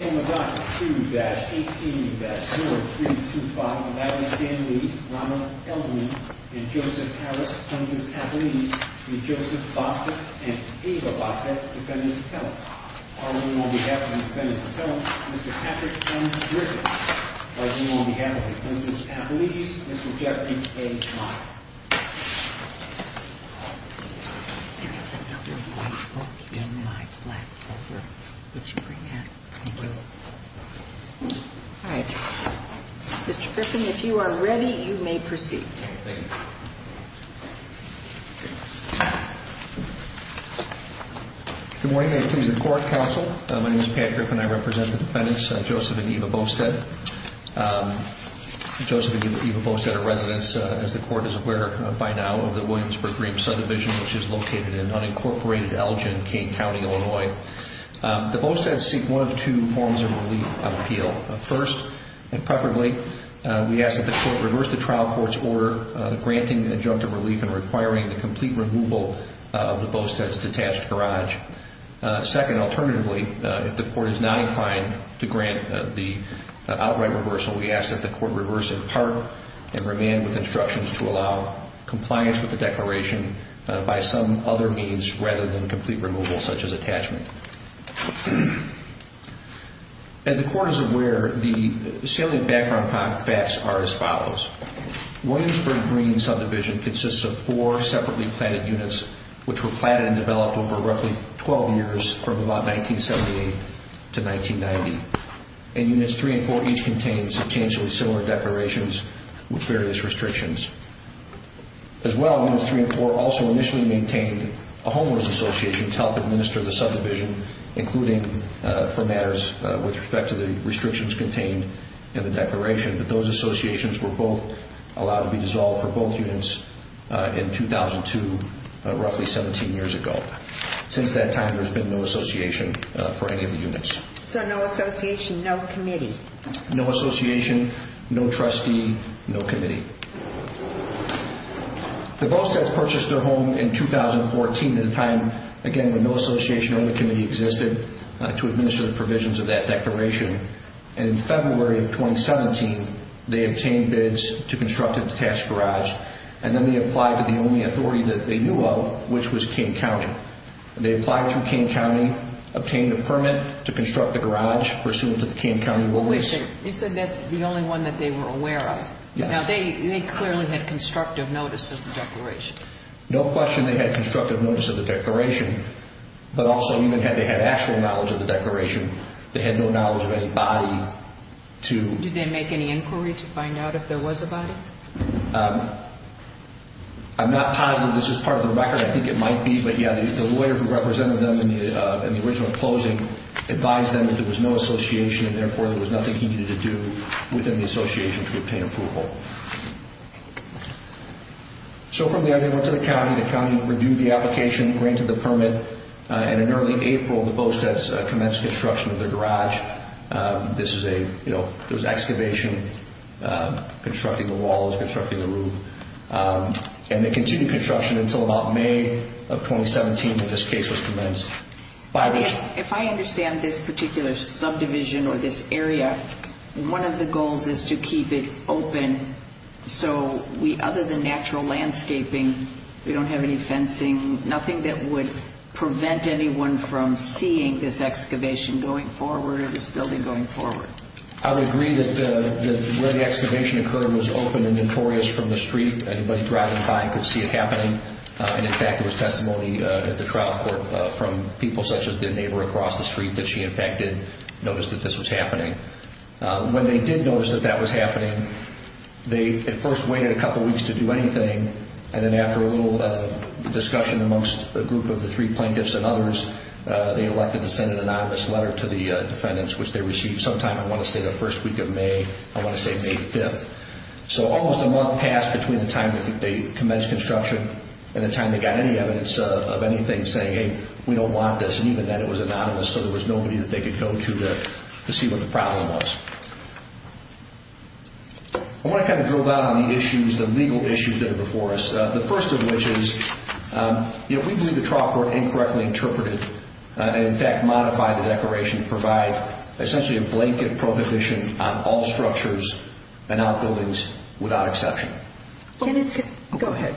Alma dot 2-18-0325 Maddie Stanley, Ronald Elderman, and Joseph Harris, Puntus Appelidis Joseph Bostedt and Ava Bostedt, Defendants' Appellants Arlington, on behalf of the Defendants' Appellants, Mr. Patrick M. Griffiths Washington, on behalf of the Puntus Appelidis, Mr. Jeffrey A. Meyer Mr. Griffiths, if you are ready, you may proceed. Good morning. May it please the Court, Counsel. My name is Patrick and I represent the Defendants, Joseph and Ava Bostedt. Joseph and Ava Bostedt are residents, as the Court is aware by now, of the Williamsburg-Greene subdivision, which is located in unincorporated Elgin, Kane County, Illinois. The Bostedts seek one of two forms of relief of appeal. First, and preferably, we ask that the Court reverse the trial court's order granting the adjunct a relief and requiring the complete removal of the Bostedt's detached garage. Second, alternatively, if the Court is not inclined to grant the outright reversal, we ask that the Court reverse in part and remain with instructions to allow compliance with the declaration by some other means rather than complete removal, such as attachment. As the Court is aware, the salient background facts are as follows. Williamsburg-Greene subdivision consists of four separately planted units, which were planted and developed over roughly 12 years from about 1978 to 1990. And Units 3 and 4 each contained substantially similar declarations with various restrictions. As well, Units 3 and 4 also initially maintained a homeowner's association to help administer the subdivision, including for matters with respect to the restrictions contained in the declaration. But those associations were both allowed to be dissolved for both units in 2002, roughly 17 years ago. Since that time, there has been no association for any of the units. So no association, no committee? No association, no trustee, no committee. The Bostedts purchased their home in 2014 at a time, again, when no association or committee existed to administer the provisions of that declaration. In February of 2017, they obtained bids to construct a detached garage, and then they applied to the only authority that they knew of, which was Kane County. They applied to Kane County, obtained a permit to construct the garage pursuant to the Kane County rule. You said that's the only one that they were aware of? Yes. Now, they clearly had constructive notice of the declaration. No question they had constructive notice of the declaration, but also even had they had actual knowledge of the declaration, they had no knowledge of any body to Did they make any inquiry to find out if there was a body? I'm not positive this is part of the record. I think it might be. But, yeah, the lawyer who represented them in the original closing advised them that there was no association, and therefore, there was nothing he needed to do within the association to obtain approval. So from there, they went to the county. The county reviewed the application, granted the permit, and in early April, the Bostedts commenced construction of their garage. There was excavation, constructing the walls, constructing the roof, and they continued construction until about May of 2017 when this case was commenced. If I understand this particular subdivision or this area, one of the goals is to keep it open, so other than natural landscaping, we don't have any fencing, nothing that would prevent anyone from seeing this excavation going forward or this building going forward. I would agree that where the excavation occurred was open and notorious from the street. Anybody driving by could see it happening. And, in fact, there was testimony at the trial court from people such as the neighbor across the street that she, in fact, did notice that this was happening. When they did notice that that was happening, they at first waited a couple weeks to do anything, and then after a little discussion amongst a group of the three plaintiffs and others, they elected to send an anonymous letter to the defendants, which they received sometime, I want to say, the first week of May, I want to say May 5th. So almost a month passed between the time that they commenced construction and the time they got any evidence of anything saying, hey, we don't want this, and even then it was anonymous, so there was nobody that they could go to to see what the problem was. I want to kind of drill down on the issues, the legal issues that are before us. The first of which is, you know, we believe the trial court incorrectly interpreted and, in fact, modified the declaration to provide essentially a blanket prohibition on all structures and outbuildings without exception. Go ahead.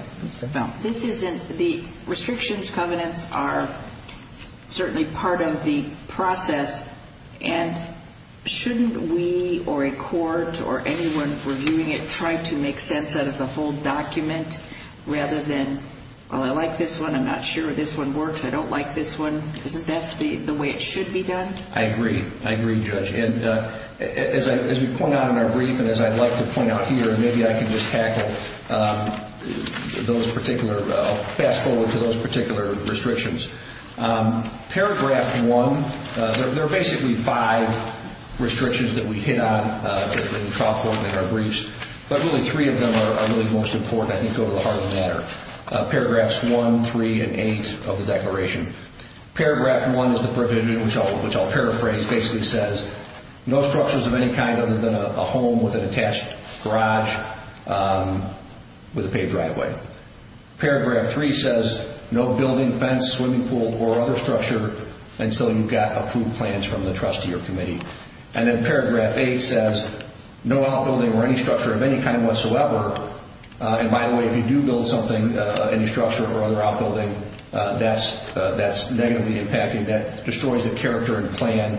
The restrictions covenants are certainly part of the process, and shouldn't we or a court or anyone reviewing it try to make sense out of the whole document rather than, well, I like this one, I'm not sure this one works, I don't like this one, isn't that the way it should be done? As we point out in our brief and as I'd like to point out here, maybe I can just tackle those particular, I'll fast forward to those particular restrictions. Paragraph one, there are basically five restrictions that we hit on in the trial court in our briefs, but really three of them are really most important and I think go to the heart of the matter. Paragraphs one, three, and eight of the declaration. Paragraph one is the prohibition, which I'll paraphrase, basically says, no structures of any kind other than a home with an attached garage with a paved driveway. Paragraph three says, no building, fence, swimming pool, or other structure until you've got approved plans from the trustee or committee. And then paragraph eight says, no outbuilding or any structure of any kind whatsoever. And by the way, if you do build something, any structure or other outbuilding, that's negatively impacting, that destroys the character and plan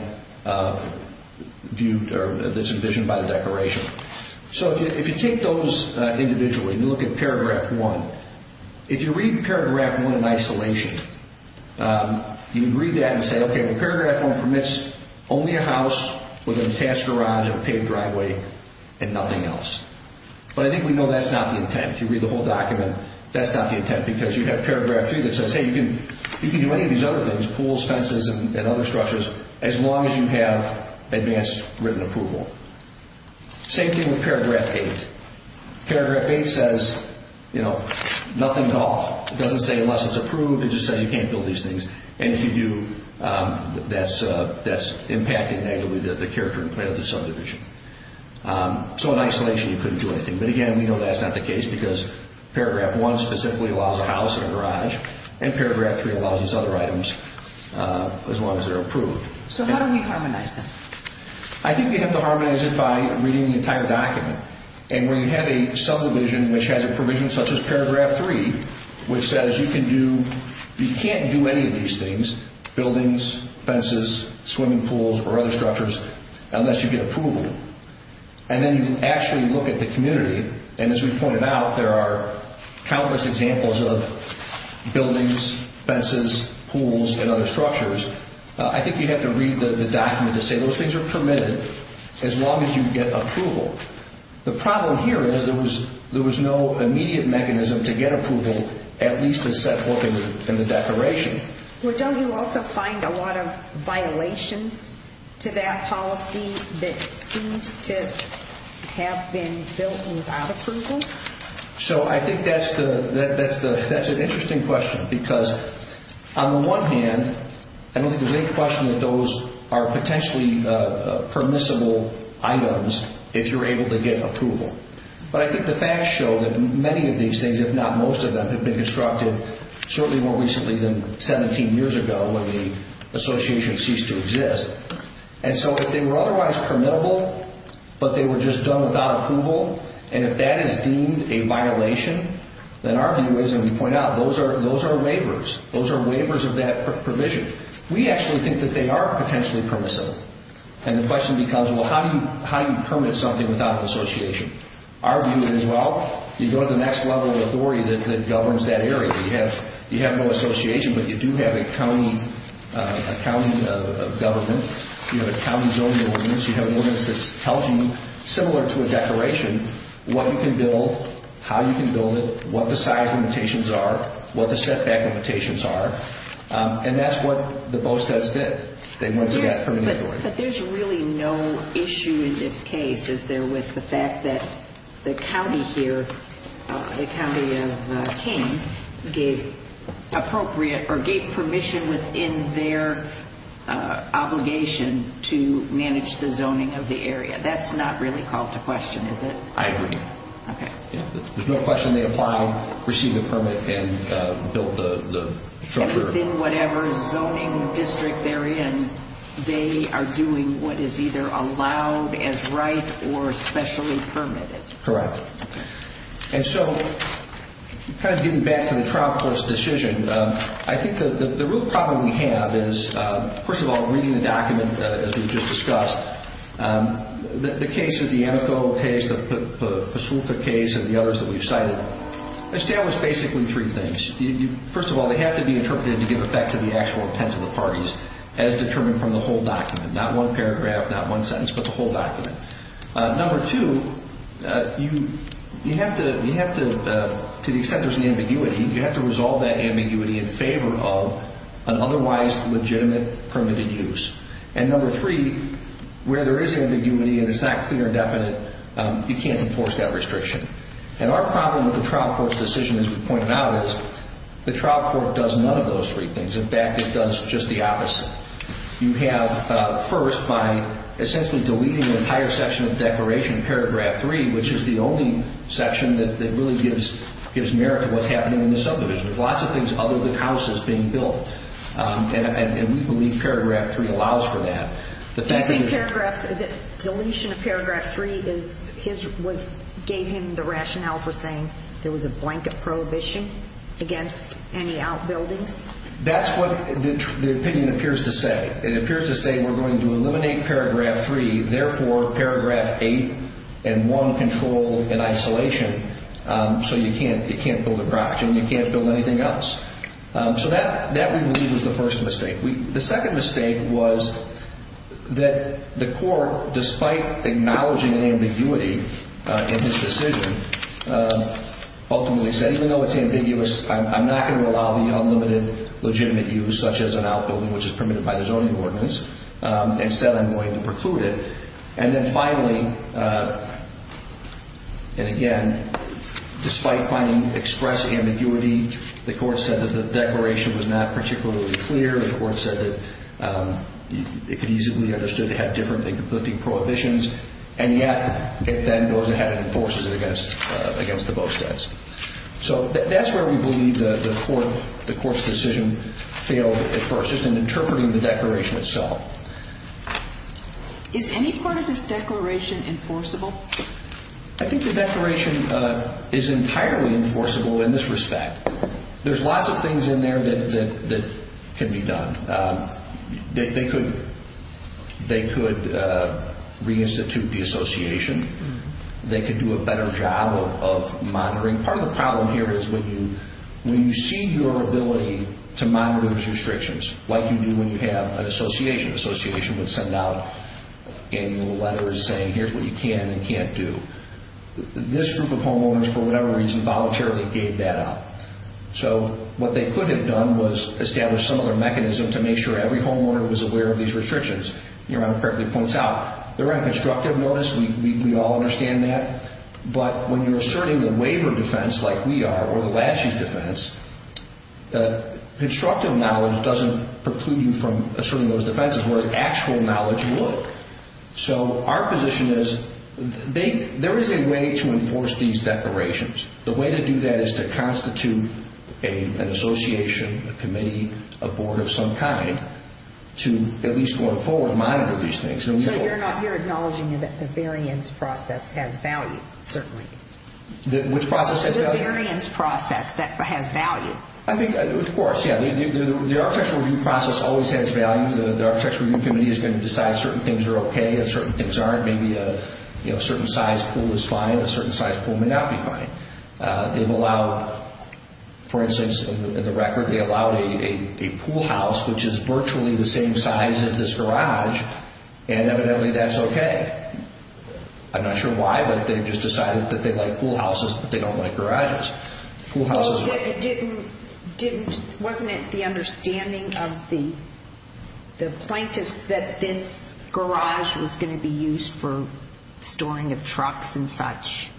viewed or that's envisioned by the declaration. So if you take those individually and you look at paragraph one, if you read paragraph one in isolation, you can read that and say, okay, paragraph one permits only a house with an attached garage and a paved driveway and nothing else. But I think we know that's not the intent. If you read the whole document, that's not the intent because you have paragraph three that says, hey, you can do any of these other things, pools, fences, and other structures, as long as you have advanced written approval. Same thing with paragraph eight. Paragraph eight says, you know, nothing at all. It doesn't say unless it's approved, it just says you can't build these things. And if you do, that's impacting negatively the character and plan of the subdivision. So in isolation you couldn't do anything. But again, we know that's not the case because paragraph one specifically allows a house and a garage and paragraph three allows these other items as long as they're approved. So how do we harmonize them? I think we have to harmonize it by reading the entire document. And when you have a subdivision which has a provision such as paragraph three, which says you can do, you can't do any of these things, buildings, fences, swimming pools, or other structures, unless you get approval. And then you actually look at the community. And as we pointed out, there are countless examples of buildings, fences, pools, and other structures. I think you have to read the document to say those things are permitted as long as you get approval. The problem here is there was no immediate mechanism to get approval, at least as set forth in the declaration. Well, don't you also find a lot of violations to that policy that seemed to have been built without approval? So I think that's an interesting question because on the one hand, I don't think there's any question that those are potentially permissible items if you're able to get approval. But I think the facts show that many of these things, if not most of them, have been constructed certainly more recently than 17 years ago when the association ceased to exist. And so if they were otherwise permittable but they were just done without approval, and if that is deemed a violation, then our view is, and we point out, those are waivers. Those are waivers of that provision. We actually think that they are potentially permissible. And the question becomes, well, how do you permit something without an association? Our view is, well, you go to the next level of authority that governs that area. You have no association, but you do have a county government. You have a county zoning ordinance. You have an ordinance that tells you, similar to a declaration, what you can build, how you can build it, what the size limitations are, what the setback limitations are. And that's what the BOSTEDS did. They went to that permissibility. But there's really no issue in this case, is there, with the fact that the county here, the county of Kane, gave appropriate or gave permission within their obligation to manage the zoning of the area. That's not really called to question, is it? I agree. Okay. There's no question they applied, received a permit, and built the structure. And within whatever zoning district they're in, they are doing what is either allowed as right or specially permitted. Correct. And so, kind of getting back to the trial court's decision, I think the real problem we have is, first of all, reading the document, as we've just discussed, the cases, the Amico case, the Pasulta case, and the others that we've cited, establish basically three things. First of all, they have to be interpreted to give effect to the actual intent of the parties, as determined from the whole document. Not one paragraph, not one sentence, but the whole document. Number two, you have to, to the extent there's an ambiguity, you have to resolve that ambiguity in favor of an otherwise legitimate permitted use. And number three, where there is ambiguity and it's not clear and definite, you can't enforce that restriction. And our problem with the trial court's decision, as we've pointed out, is the trial court does none of those three things. In fact, it does just the opposite. You have, first, by essentially deleting the entire section of the declaration, paragraph three, which is the only section that really gives merit to what's happening in the subdivision. There's lots of things other than houses being built. And we believe paragraph three allows for that. Do you think paragraph, that deletion of paragraph three is, gave him the rationale for saying there was a blanket prohibition against any outbuildings? That's what the opinion appears to say. It appears to say we're going to eliminate paragraph three, therefore paragraph eight and one control in isolation, so you can't build a property and you can't build anything else. So that we believe is the first mistake. The second mistake was that the court, despite acknowledging ambiguity in his decision, ultimately said even though it's ambiguous, I'm not going to allow the unlimited legitimate use, such as an outbuilding which is permitted by the zoning ordinance. Instead, I'm going to preclude it. And then finally, and again, despite finding express ambiguity, the court said that the declaration was not particularly clear. The court said that it could easily be understood to have different and conflicting prohibitions, and yet it then goes ahead and enforces it against the Bosteds. So that's where we believe the court's decision failed at first, just in interpreting the declaration itself. Is any part of this declaration enforceable? I think the declaration is entirely enforceable in this respect. There's lots of things in there that can be done. They could reinstitute the association. They could do a better job of monitoring. Part of the problem here is when you see your ability to monitor those restrictions, like you do when you have an association. An association would send out an annual letter saying here's what you can and can't do. This group of homeowners, for whatever reason, voluntarily gave that up. So what they could have done was establish some other mechanism to make sure every homeowner was aware of these restrictions. Your Honor correctly points out they're on constructive notice. We all understand that. But when you're asserting the waiver defense like we are, or the laches defense, constructive knowledge doesn't preclude you from asserting those defenses, whereas actual knowledge will. So our position is there is a way to enforce these declarations. The way to do that is to constitute an association, a committee, a board of some kind, to at least going forward monitor these things. So you're acknowledging that the variance process has value, certainly. Which process has value? The variance process that has value. I think, of course, yeah. The architectural review process always has value. The architectural review committee is going to decide certain things are okay and certain things aren't. Maybe a certain size pool is fine and a certain size pool may not be fine. They've allowed, for instance, in the record, they allowed a pool house, which is virtually the same size as this garage, and evidently that's okay. I'm not sure why, but they've just decided that they like pool houses, but they don't like garages. Well, wasn't it the understanding of the plaintiffs that this garage was going to be used for storing of trucks and such?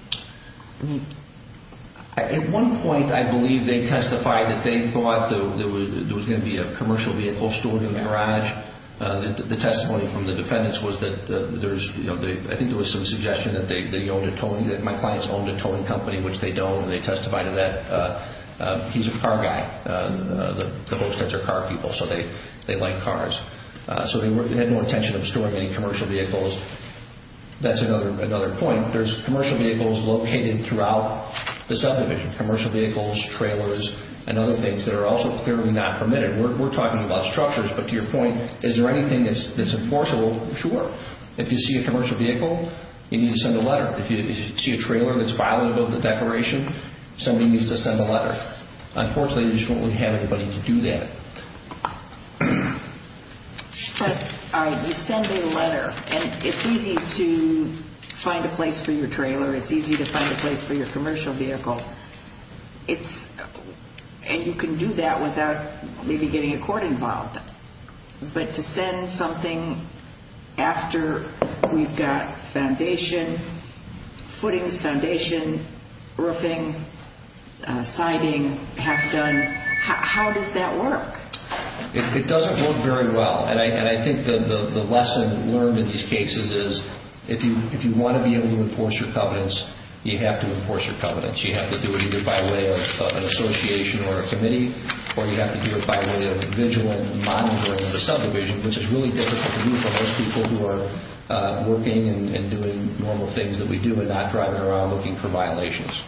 At one point, I believe they testified that they thought there was going to be a commercial vehicle stored in the garage. The testimony from the defendants was that there's, you know, my clients owned a towing company, which they don't, and they testified to that. He's a car guy. The hostess are car people, so they like cars. So they had no intention of storing any commercial vehicles. That's another point. There's commercial vehicles located throughout the subdivision, commercial vehicles, trailers, and other things that are also clearly not permitted. We're talking about structures, but to your point, is there anything that's enforceable? Sure. If you see a commercial vehicle, you need to send a letter. If you see a trailer that's violative of the declaration, somebody needs to send a letter. Unfortunately, we just don't have anybody to do that. But, all right, you send a letter, and it's easy to find a place for your trailer. It's easy to find a place for your commercial vehicle. And you can do that without maybe getting a court involved. But to send something after we've got foundation, footings foundation, roofing, siding half done, how does that work? It doesn't work very well. And I think the lesson learned in these cases is if you want to be able to enforce your covenants, you have to enforce your covenants. You have to do it either by way of an association or a committee, or you have to do it by way of vigilant monitoring of the subdivision, which is really difficult to do for most people who are working and doing normal things that we do and not driving around looking for violations.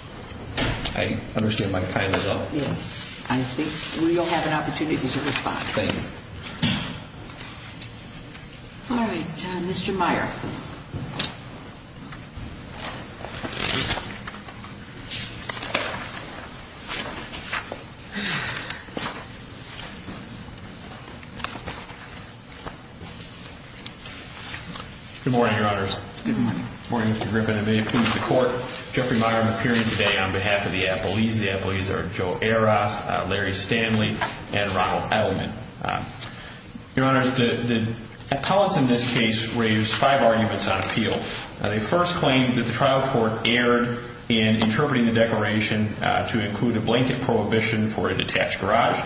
I understand my time is up. Yes. I think we all have an opportunity to respond. Thank you. All right. Mr. Meyer. Good morning, Your Honors. Good morning. Good morning, Mr. Griffin. I'm going to be appealing to the court. Jeffrey Meyer. I'm appearing today on behalf of the appellees. The appellees are Joe Aras, Larry Stanley, and Ronald Edelman. Your Honors, the appellants in this case raised five arguments on appeal. They first claimed that the trial court erred in interpreting the definition of the word to include a blanket prohibition for a detached garage.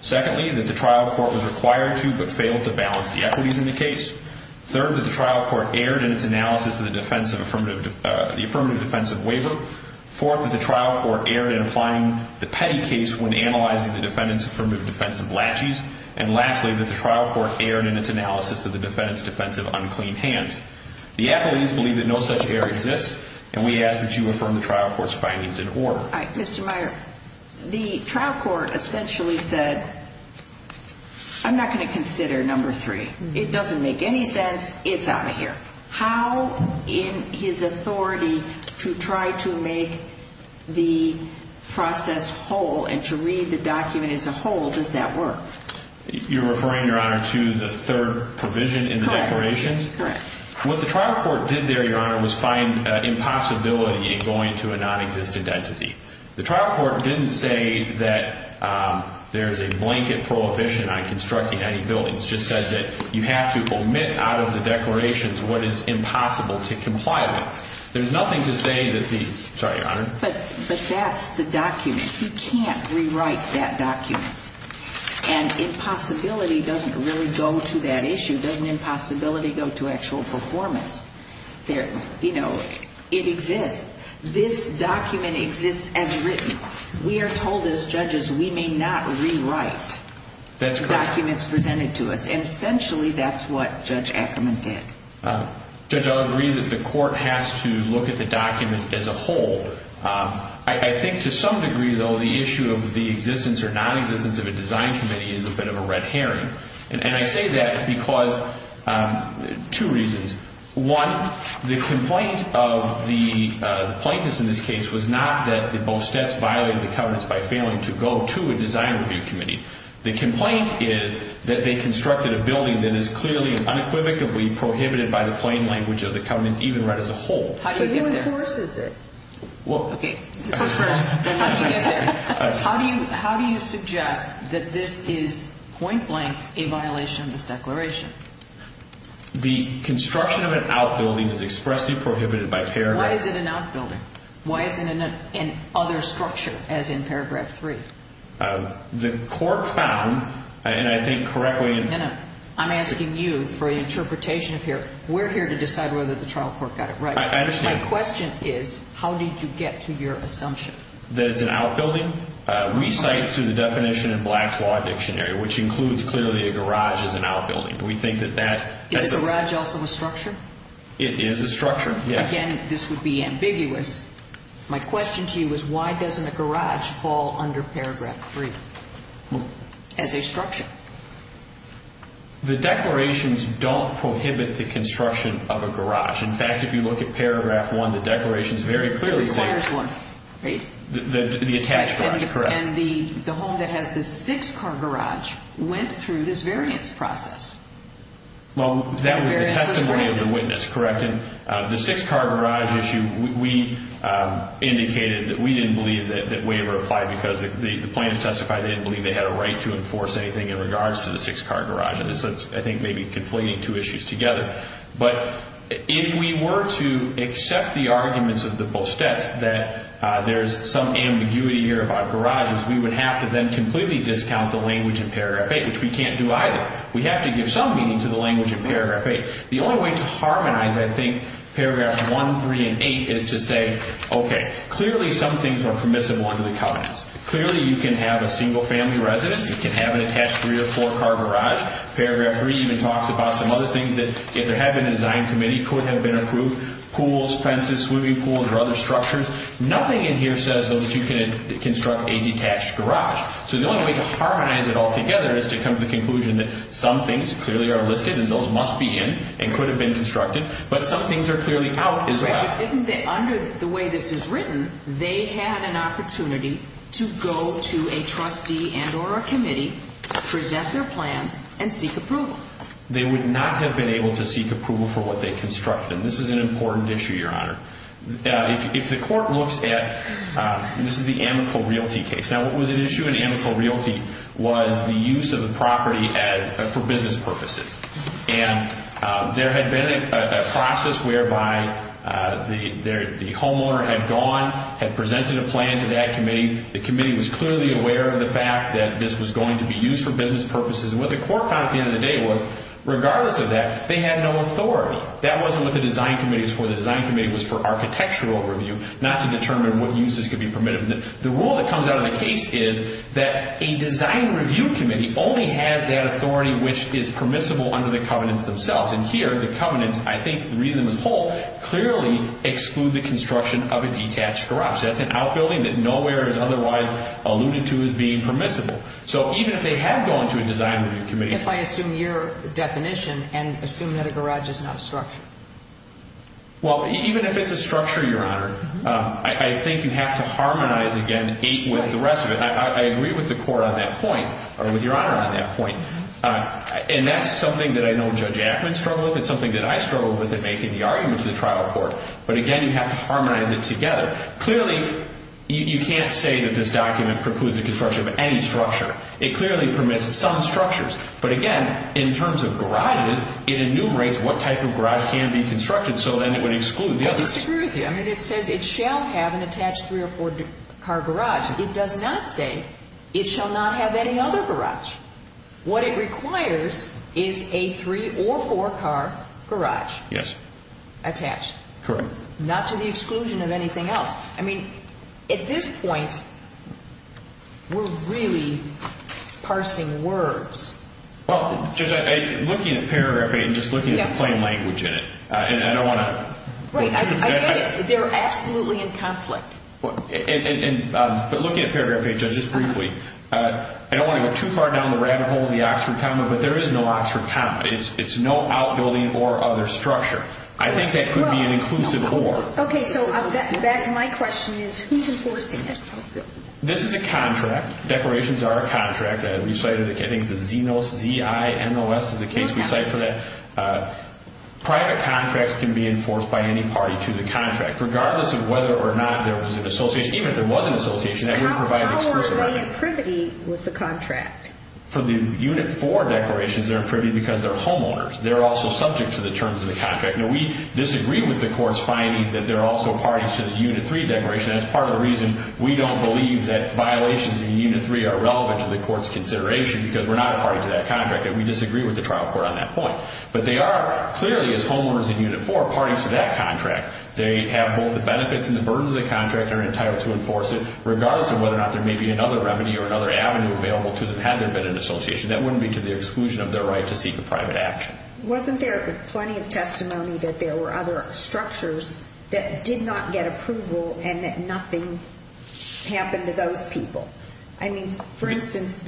Secondly, that the trial court was required to but failed to balance the equities in the case. Third, that the trial court erred in its analysis of the affirmative defensive waiver. Fourth, that the trial court erred in applying the petty case when analyzing the defendant's affirmative defensive latches. And lastly, that the trial court erred in its analysis of the defendant's defensive unclean hands. The appellees believe that no such error exists, and we ask that you affirm the trial court's findings in order. Mr. Meyer, the trial court essentially said, I'm not going to consider number three. It doesn't make any sense. It's out of here. How in his authority to try to make the process whole and to read the document as a whole, does that work? You're referring, Your Honor, to the third provision in the declaration? Correct. What the trial court did there, Your Honor, was find impossibility in going to a nonexistent entity. The trial court didn't say that there's a blanket prohibition on constructing any buildings. It just said that you have to omit out of the declarations what is impossible to comply with. There's nothing to say that the – sorry, Your Honor. But that's the document. You can't rewrite that document. And impossibility doesn't really go to that issue. Doesn't impossibility go to actual performance? You know, it exists. This document exists as written. We are told as judges we may not rewrite the documents presented to us, and essentially that's what Judge Ackerman did. Judge, I'll agree that the court has to look at the document as a whole. I think to some degree, though, the issue of the existence or nonexistence of a design committee is a bit of a red herring. And I say that because two reasons. One, the complaint of the plaintiffs in this case was not that the Bostettes violated the covenants by failing to go to a design review committee. The complaint is that they constructed a building that is clearly and unequivocally prohibited by the plain language of the covenants even read as a whole. How do you get there? Who enforces it? Well, okay. This one's first. How do you get there? Why is it not a violation of this declaration? The construction of an outbuilding is expressly prohibited by paragraph... Why is it an outbuilding? Why isn't it in other structure as in paragraph 3? The court found, and I think correctly... I'm asking you for an interpretation here. We're here to decide whether the trial court got it right. I understand. My question is, how did you get to your assumption? That it's an outbuilding? We cite through the definition in Black's Law Dictionary, which includes clearly a garage as an outbuilding. We think that that... Is a garage also a structure? It is a structure, yes. Again, this would be ambiguous. My question to you is, why doesn't a garage fall under paragraph 3 as a structure? The declarations don't prohibit the construction of a garage. In fact, if you look at paragraph 1, the declarations very clearly say... It requires one, right? The attached garage, correct. And the home that has the six-car garage went through this variance process. Well, that was the testimony of the witness, correct? And the six-car garage issue, we indicated that we didn't believe that waiver applied because the plaintiffs testified they didn't believe they had a right to enforce anything in regards to the six-car garage. And this, I think, may be conflating two issues together. But if we were to accept the arguments of the post-its that there's some ambiguity here about garages, we would have to then completely discount the language in paragraph 8, which we can't do either. We have to give some meaning to the language in paragraph 8. The only way to harmonize, I think, paragraphs 1, 3, and 8 is to say, okay, clearly some things are permissible under the Covenants. Clearly, you can have a single-family residence. You can have an attached three- or four-car garage. Paragraph 3 even talks about some other things that, if there had been a design committee, could have been approved, pools, fences, swimming pools, or other structures. Nothing in here says, though, that you can construct a detached garage. So the only way to harmonize it all together is to come to the conclusion that some things clearly are listed and those must be in and could have been constructed, but some things are clearly out as well. But under the way this is written, they had an opportunity to go to a trustee and or a committee, present their plans, and seek approval. They would not have been able to seek approval for what they constructed. This is an important issue, Your Honor. If the court looks at, this is the Amico Realty case. Now, what was at issue in Amico Realty was the use of the property for business purposes. And there had been a process whereby the homeowner had gone, had presented a plan to that committee. The committee was clearly aware of the fact that this was going to be used for business purposes. And what the court found at the end of the day was, regardless of that, they had no authority. That wasn't what the design committee was for. The design committee was for architectural review, not to determine what uses could be permitted. The rule that comes out of the case is that a design review committee only has that authority which is permissible under the covenants themselves. And here, the covenants, I think three of them as a whole, clearly exclude the construction of a detached garage. That's an outbuilding that nowhere is otherwise alluded to as being permissible. So even if they had gone to a design review committee. If I assume your definition and assume that a garage is not a structure. Well, even if it's a structure, Your Honor, I think you have to harmonize, again, eight with the rest of it. I agree with the court on that point, or with Your Honor on that point. And that's something that I know Judge Ackman struggled with. It's something that I struggled with in making the argument to the trial court. But again, you have to harmonize it together. Clearly, you can't say that this document precludes the construction of any structure. It clearly permits some structures. But again, in terms of garages, it enumerates what type of garage can be constructed, so then it would exclude the others. I disagree with you. I mean, it says it shall have an attached three- or four-car garage. It does not say it shall not have any other garage. What it requires is a three- or four-car garage. Yes. Attached. Correct. Not to the exclusion of anything else. I mean, at this point, we're really parsing words. Well, Judge, looking at paragraph 8 and just looking at the plain language in it, and I don't want to— Right. I get it. They're absolutely in conflict. But looking at paragraph 8, Judge, just briefly, I don't want to go too far down the rabbit hole in the Oxford comma, but there is no Oxford comma. It's no outbuilding or other structure. I think that could be an inclusive or. Okay. So back to my question is, who's enforcing it? This is a contract. Declarations are a contract. I think it's the ZINOS, Z-I-N-O-S is the case we cite for that. Private contracts can be enforced by any party to the contract, regardless of whether or not there was an association. Even if there was an association, that would provide exclusivity. How are they in privity with the contract? For the Unit 4 declarations, they're in privity because they're homeowners. They're also subject to the terms of the contract. Now, we disagree with the court's finding that they're also parties to the Unit 3 declaration. That's part of the reason we don't believe that violations in Unit 3 are relevant to the court's consideration, because we're not a party to that contract, and we disagree with the trial court on that point. But they are clearly, as homeowners in Unit 4, parties to that contract. They have both the benefits and the burdens of the contract, and are entitled to enforce it, regardless of whether or not there may be another remedy or another avenue available to them, had there been an association. That wouldn't be to the exclusion of their right to seek a private action. Wasn't there plenty of testimony that there were other structures that did not get approval, and that nothing happened to those people? I mean, for instance,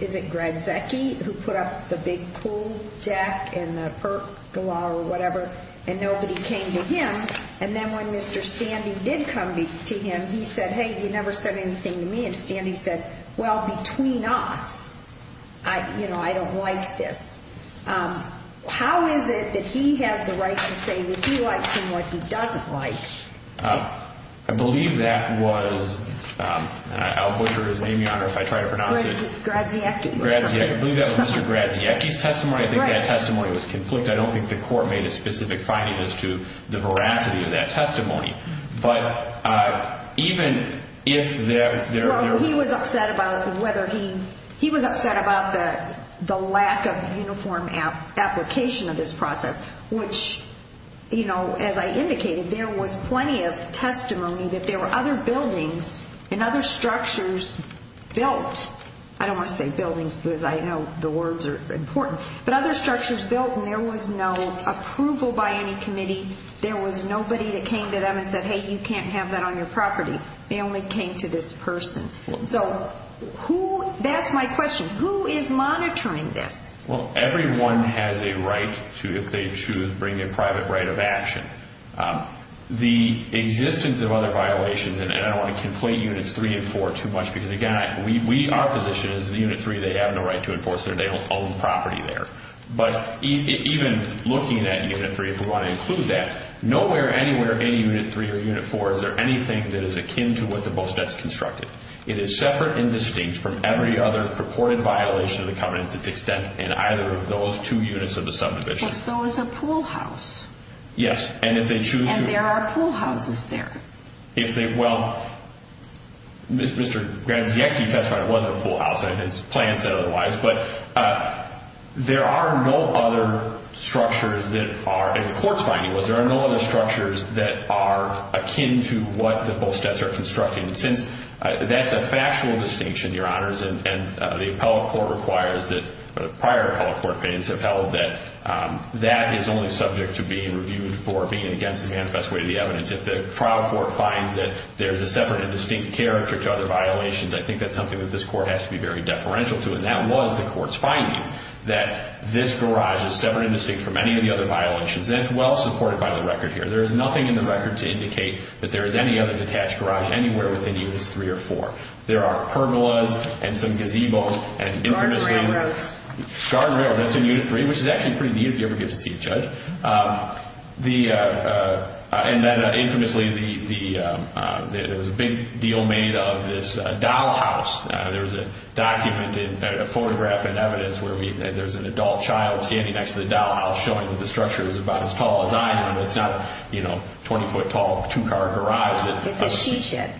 is it Greg Zecchi, who put up the big pool deck and the pergola or whatever, and nobody came to him, and then when Mr. Standy did come to him, he said, hey, you never said anything to me. And Mr. Standy said, well, between us, you know, I don't like this. How is it that he has the right to say what he likes and what he doesn't like? I believe that was – I'll butcher his name, Your Honor, if I try to pronounce it. Graziecchi. I believe that was Mr. Graziecchi's testimony. I think that testimony was conflicted. I don't think the court made a specific finding as to the veracity of that testimony. But even if there – Well, he was upset about whether he – he was upset about the lack of uniform application of this process, which, you know, as I indicated, there was plenty of testimony that there were other buildings and other structures built. I don't want to say buildings because I know the words are important. But other structures built, and there was no approval by any committee. There was nobody that came to them and said, hey, you can't have that on your property. They only came to this person. So who – that's my question. Who is monitoring this? Well, everyone has a right to, if they choose, bring a private right of action. The existence of other violations – and I don't want to conflate Units 3 and 4 too much because, again, our position is in Unit 3 they have no right to enforce their – they don't own property there. But even looking at Unit 3, if we want to include that, nowhere anywhere in Unit 3 or Unit 4 is there anything that is akin to what the Bosvets constructed. It is separate and distinct from every other purported violation of the covenants that's extended in either of those two units of the subdivision. Well, so is a pool house. Yes, and if they choose to – And there are pool houses there. If they – well, Mr. Graziecki testified it wasn't a pool house. His plan said otherwise. But there are no other structures that are – and the court's finding was there are no other structures that are akin to what the Bosvets are constructing. Since that's a factual distinction, Your Honors, and the appellate court requires that – prior appellate court opinions have held that that is only subject to being reviewed for being against the manifest way of the evidence. If the trial court finds that there's a separate and distinct character to other violations, I think that's something that this court has to be very deferential to. And that was the court's finding, that this garage is separate and distinct from any of the other violations. And it's well supported by the record here. There is nothing in the record to indicate that there is any other detached garage anywhere within Unit 3 or 4. There are pergolas and some gazebos and infamously – Garden railroads. Garden railroads. That's in Unit 3, which is actually pretty neat if you ever get to see it, Judge. And then infamously, there was a big deal made of this dollhouse. There was a document, a photograph in evidence, where there's an adult child standing next to the dollhouse showing that the structure is about as tall as I am. It's not a 20-foot tall two-car garage. It's a t-shirt.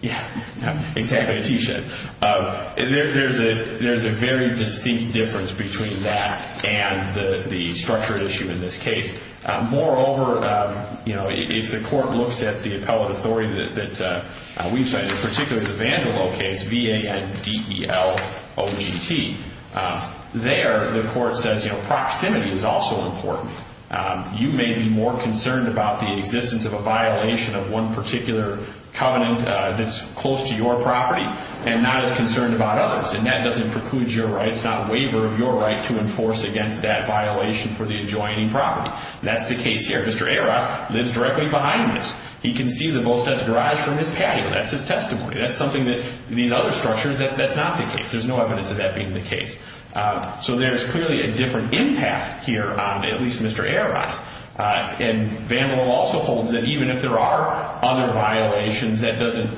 Yeah, exactly, a t-shirt. There's a very distinct difference between that and the structure issue in this case. Moreover, if the court looks at the appellate authority that we've cited, particularly the Vandevo case, V-A-N-D-E-L-O-G-T, there the court says proximity is also important. You may be more concerned about the existence of a violation of one particular covenant that's close to your property and not as concerned about others, and that doesn't preclude your rights, not waiver of your right to enforce against that violation for the adjoining property. That's the case here. Mr. Aras lives directly behind this. He can see the Volstead's garage from his patio. That's his testimony. That's something that these other structures, that's not the case. There's no evidence of that being the case. So there's clearly a different impact here on at least Mr. Aras. And Vandevo also holds that even if there are other violations, that doesn't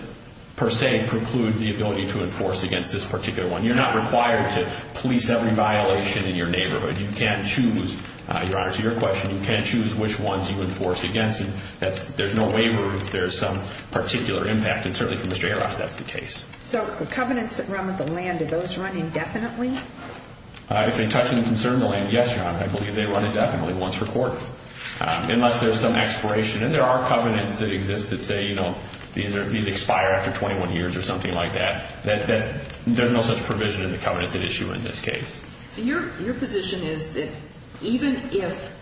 per se preclude the ability to enforce against this particular one. You're not required to police every violation in your neighborhood. You can't choose. Your Honor, to your question, you can't choose which ones you enforce against. There's no waiver if there's some particular impact, and certainly for Mr. Aras that's the case. So the covenants that run with the land, do those run indefinitely? If they touch and concern the land, yes, Your Honor. I believe they run indefinitely once per court, unless there's some expiration. And there are covenants that exist that say, you know, these expire after 21 years or something like that. There's no such provision in the covenants at issue in this case. Your position is that even if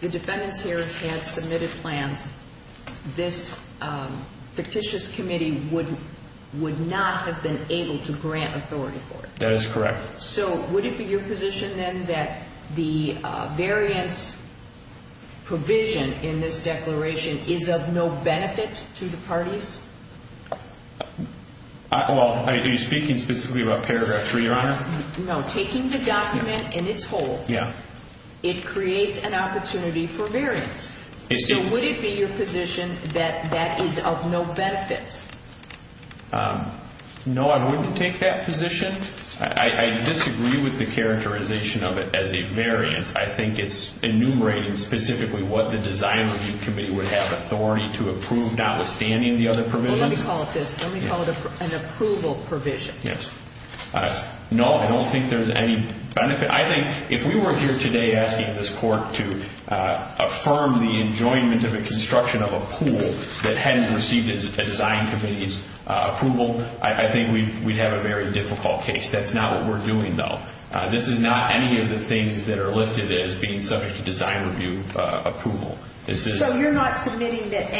the defendants here had submitted plans, this fictitious committee would not have been able to grant authority for it. That is correct. So would it be your position then that the variance provision in this declaration is of no benefit to the parties? Well, are you speaking specifically about paragraph 3, Your Honor? No. Taking the document in its whole, it creates an opportunity for variance. So would it be your position that that is of no benefit? No, I wouldn't take that position. I disagree with the characterization of it as a variance. I think it's enumerating specifically what the design review committee would have authority to approve, notwithstanding the other provisions. Well, let me call it this. Let me call it an approval provision. Yes. No, I don't think there's any benefit. I think if we were here today asking this court to affirm the enjoyment of a construction of a pool that hadn't received a design committee's approval, I think we'd have a very difficult case. That's not what we're doing, though. This is not any of the things that are listed as being subject to design review approval. So you're not submitting that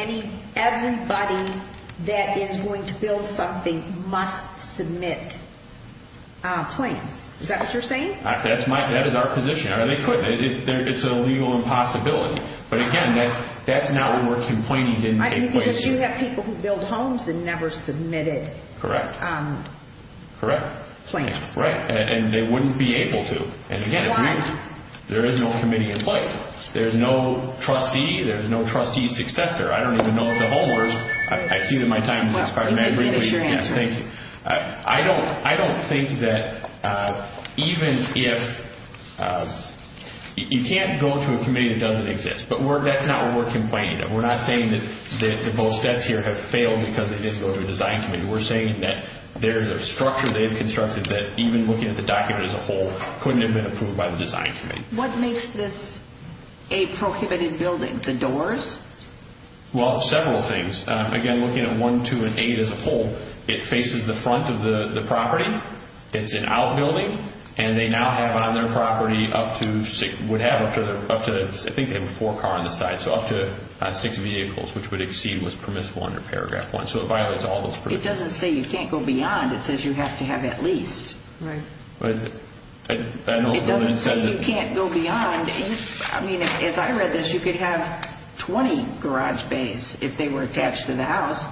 everybody that is going to build something must submit plans. Is that what you're saying? That is our position. It's a legal impossibility. Because you have people who build homes and never submitted plans. Correct. And they wouldn't be able to. Why? There is no committee in place. There is no trustee. There is no trustee successor. I don't even know if the homeowner is. I see that my time has expired. Let me finish your answer. Thank you. I don't think that even if you can't go to a committee that doesn't exist. But that's not what we're complaining of. We're not saying that the Bostetts here have failed because they didn't go to a design committee. We're saying that there's a structure they've constructed that, even looking at the document as a whole, couldn't have been approved by the design committee. What makes this a prohibited building? The doors? Well, several things. Again, looking at 1, 2, and 8 as a whole, it faces the front of the property. It's an outbuilding. And they now have on their property up to, I think they have a four-car on the side, so up to six vehicles, which would exceed what's permissible under Paragraph 1. So it violates all those provisions. It doesn't say you can't go beyond. It says you have to have at least. Right. It doesn't say you can't go beyond. I mean, as I read this, you could have 20 garage bays if they were attached to the house.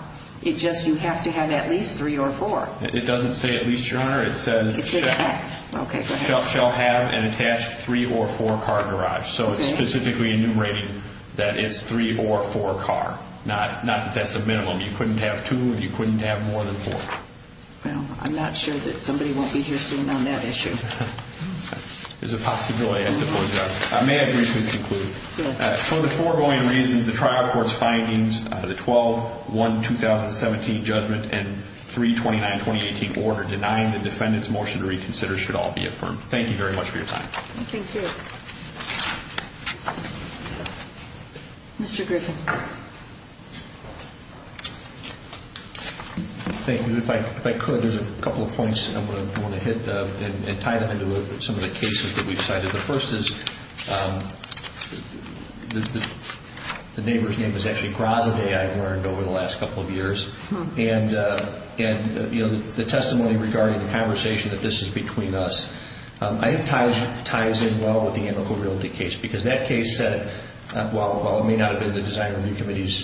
It just, you have to have at least three or four. It doesn't say at least 200. It says shall have an attached three- or four-car garage. So it's specifically enumerating that it's three- or four-car, not that that's a minimum. You couldn't have two, and you couldn't have more than four. Well, I'm not sure that somebody won't be here soon on that issue. There's a possibility, I suppose. I may have briefly concluded. Yes. For the foregoing reasons, the trial court's findings, the 12-1-2017 judgment and 3-29-2018 order denying the defendant's motion to reconsider should all be affirmed. Thank you very much for your time. Thank you. Mr. Griffin. Thank you. If I could, there's a couple of points I want to hit and tie them into some of the cases that we've cited. The first is, the neighbor's name is actually Grasaday, I've learned over the last couple of years. And, you know, the testimony regarding the conversation that this is between us, I think ties in well with the antical realty case because that case said, while it may not have been the Design Review Committee's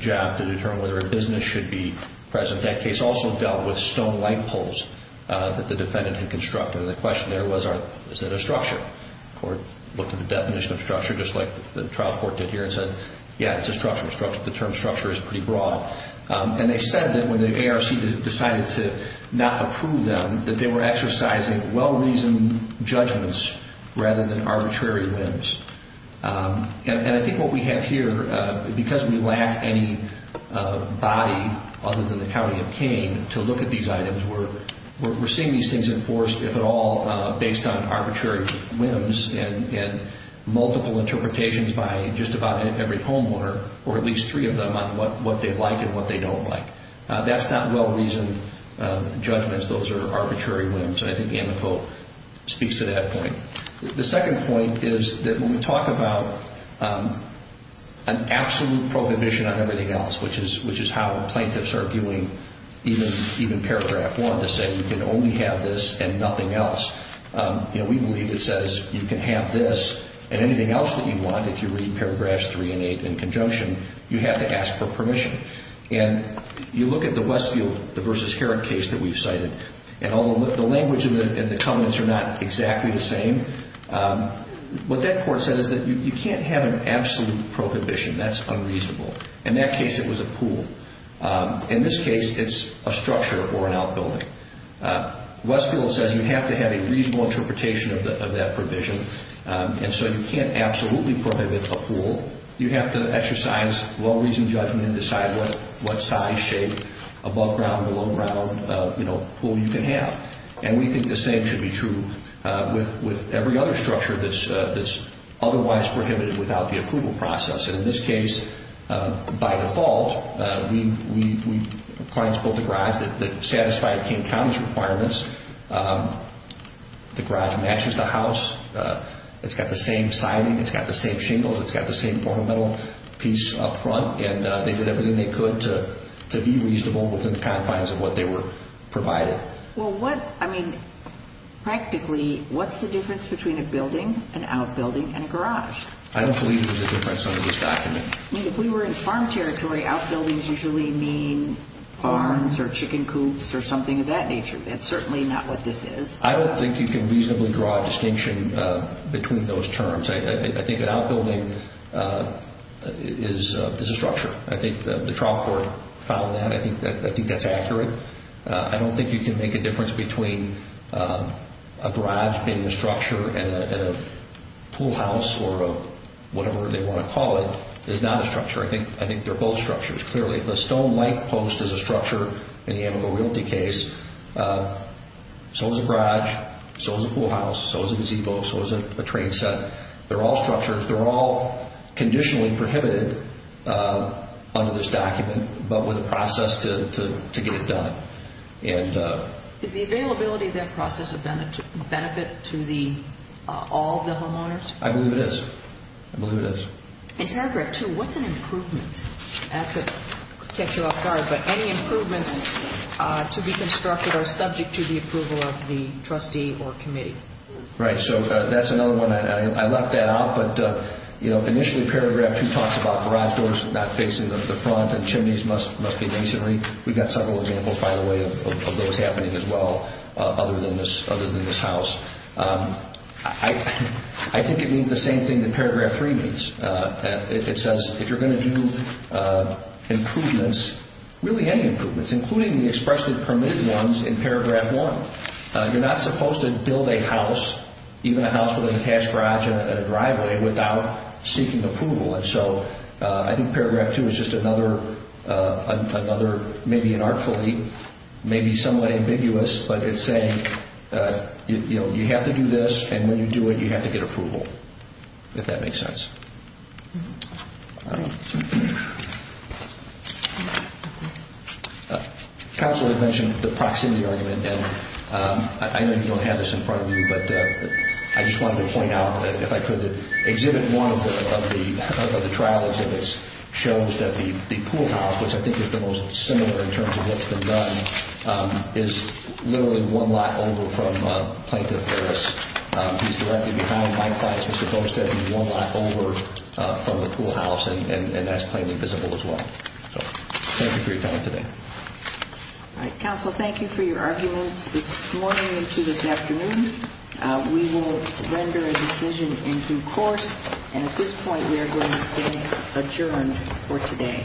job to determine whether a business should be present, that case also dealt with stone-like poles that the defendant had constructed. And the question there was, is that a structure? The court looked at the definition of structure, just like the trial court did here, and said, yeah, it's a structure. The term structure is pretty broad. And they said that when the ARC decided to not approve them, that they were exercising well-reasoned judgments rather than arbitrary ones. And I think what we have here, because we lack any body other than the County of Kane to look at these items, we're seeing these things enforced, if at all, based on arbitrary whims and multiple interpretations by just about every homeowner, or at least three of them on what they like and what they don't like. That's not well-reasoned judgments. Those are arbitrary whims. And I think Amico speaks to that point. The second point is that when we talk about an absolute prohibition on everything else, which is how plaintiffs are viewing even Paragraph 1, to say you can only have this and nothing else, we believe it says you can have this and anything else that you want, if you read Paragraphs 3 and 8 in conjunction, you have to ask for permission. And you look at the Westfield v. Herrick case that we've cited, and although the language and the comments are not exactly the same, what that court said is that you can't have an absolute prohibition. That's unreasonable. In that case, it was a pool. In this case, it's a structure or an outbuilding. Westfield says you have to have a reasonable interpretation of that provision, and so you can't absolutely prohibit a pool. You have to exercise well-reasoned judgment and decide what size, shape, above-ground, below-ground pool you can have. And we think the same should be true with every other structure that's otherwise prohibited without the approval process. And in this case, by default, clients built a garage that satisfied King County's requirements. The garage matches the house. It's got the same siding. It's got the same shingles. It's got the same ornamental piece up front, and they did everything they could to be reasonable within the confines of what they were provided. Well, what, I mean, practically, what's the difference between a building, an outbuilding, and a garage? I don't believe there's a difference under this document. I mean, if we were in farm territory, outbuildings usually mean barns or chicken coops or something of that nature. That's certainly not what this is. I don't think you can reasonably draw a distinction between those terms. I think an outbuilding is a structure. I think the trial court found that. I think that's accurate. I don't think you can make a difference between a garage being a structure and a pool house or whatever they want to call it is not a structure. I think they're both structures, clearly. If a stone-like post is a structure in the Amigo Realty case, so is a garage, so is a pool house, so is a gazebo, so is a train set. They're all structures. They're all conditionally prohibited under this document but with a process to get it done. Is the availability of that process a benefit to all the homeowners? I believe it is. I believe it is. In paragraph 2, what's an improvement? I have to catch you off guard, but any improvements to be constructed are subject to the approval of the trustee or committee. Right, so that's another one. I left that out, but initially paragraph 2 talks about garage doors not facing the front and chimneys must be masonry. We've got several examples, by the way, of those happening as well other than this house. I think it means the same thing that paragraph 3 means. It says if you're going to do improvements, really any improvements, including the expressly permitted ones in paragraph 1, you're not supposed to build a house, even a house with an attached garage and a driveway, without seeking approval. And so I think paragraph 2 is just another, maybe an artfully, maybe somewhat ambiguous, but it's saying you have to do this and when you do it, you have to get approval, if that makes sense. All right. Counselor had mentioned the proximity argument, and I know you don't have this in front of you, but I just wanted to point out, if I could, exhibit one of the trial exhibits shows that the pool house, which I think is the most similar in terms of what's been done, is literally one lot over from Plaintiff Harris. He's directly behind Mike Price, who's supposed to be one lot over from the pool house, and that's plainly visible as well. So thank you for your time today. All right. Counsel, thank you for your arguments this morning and to this afternoon. We will render a decision in due course, and at this point, we are going to stay adjourned for today.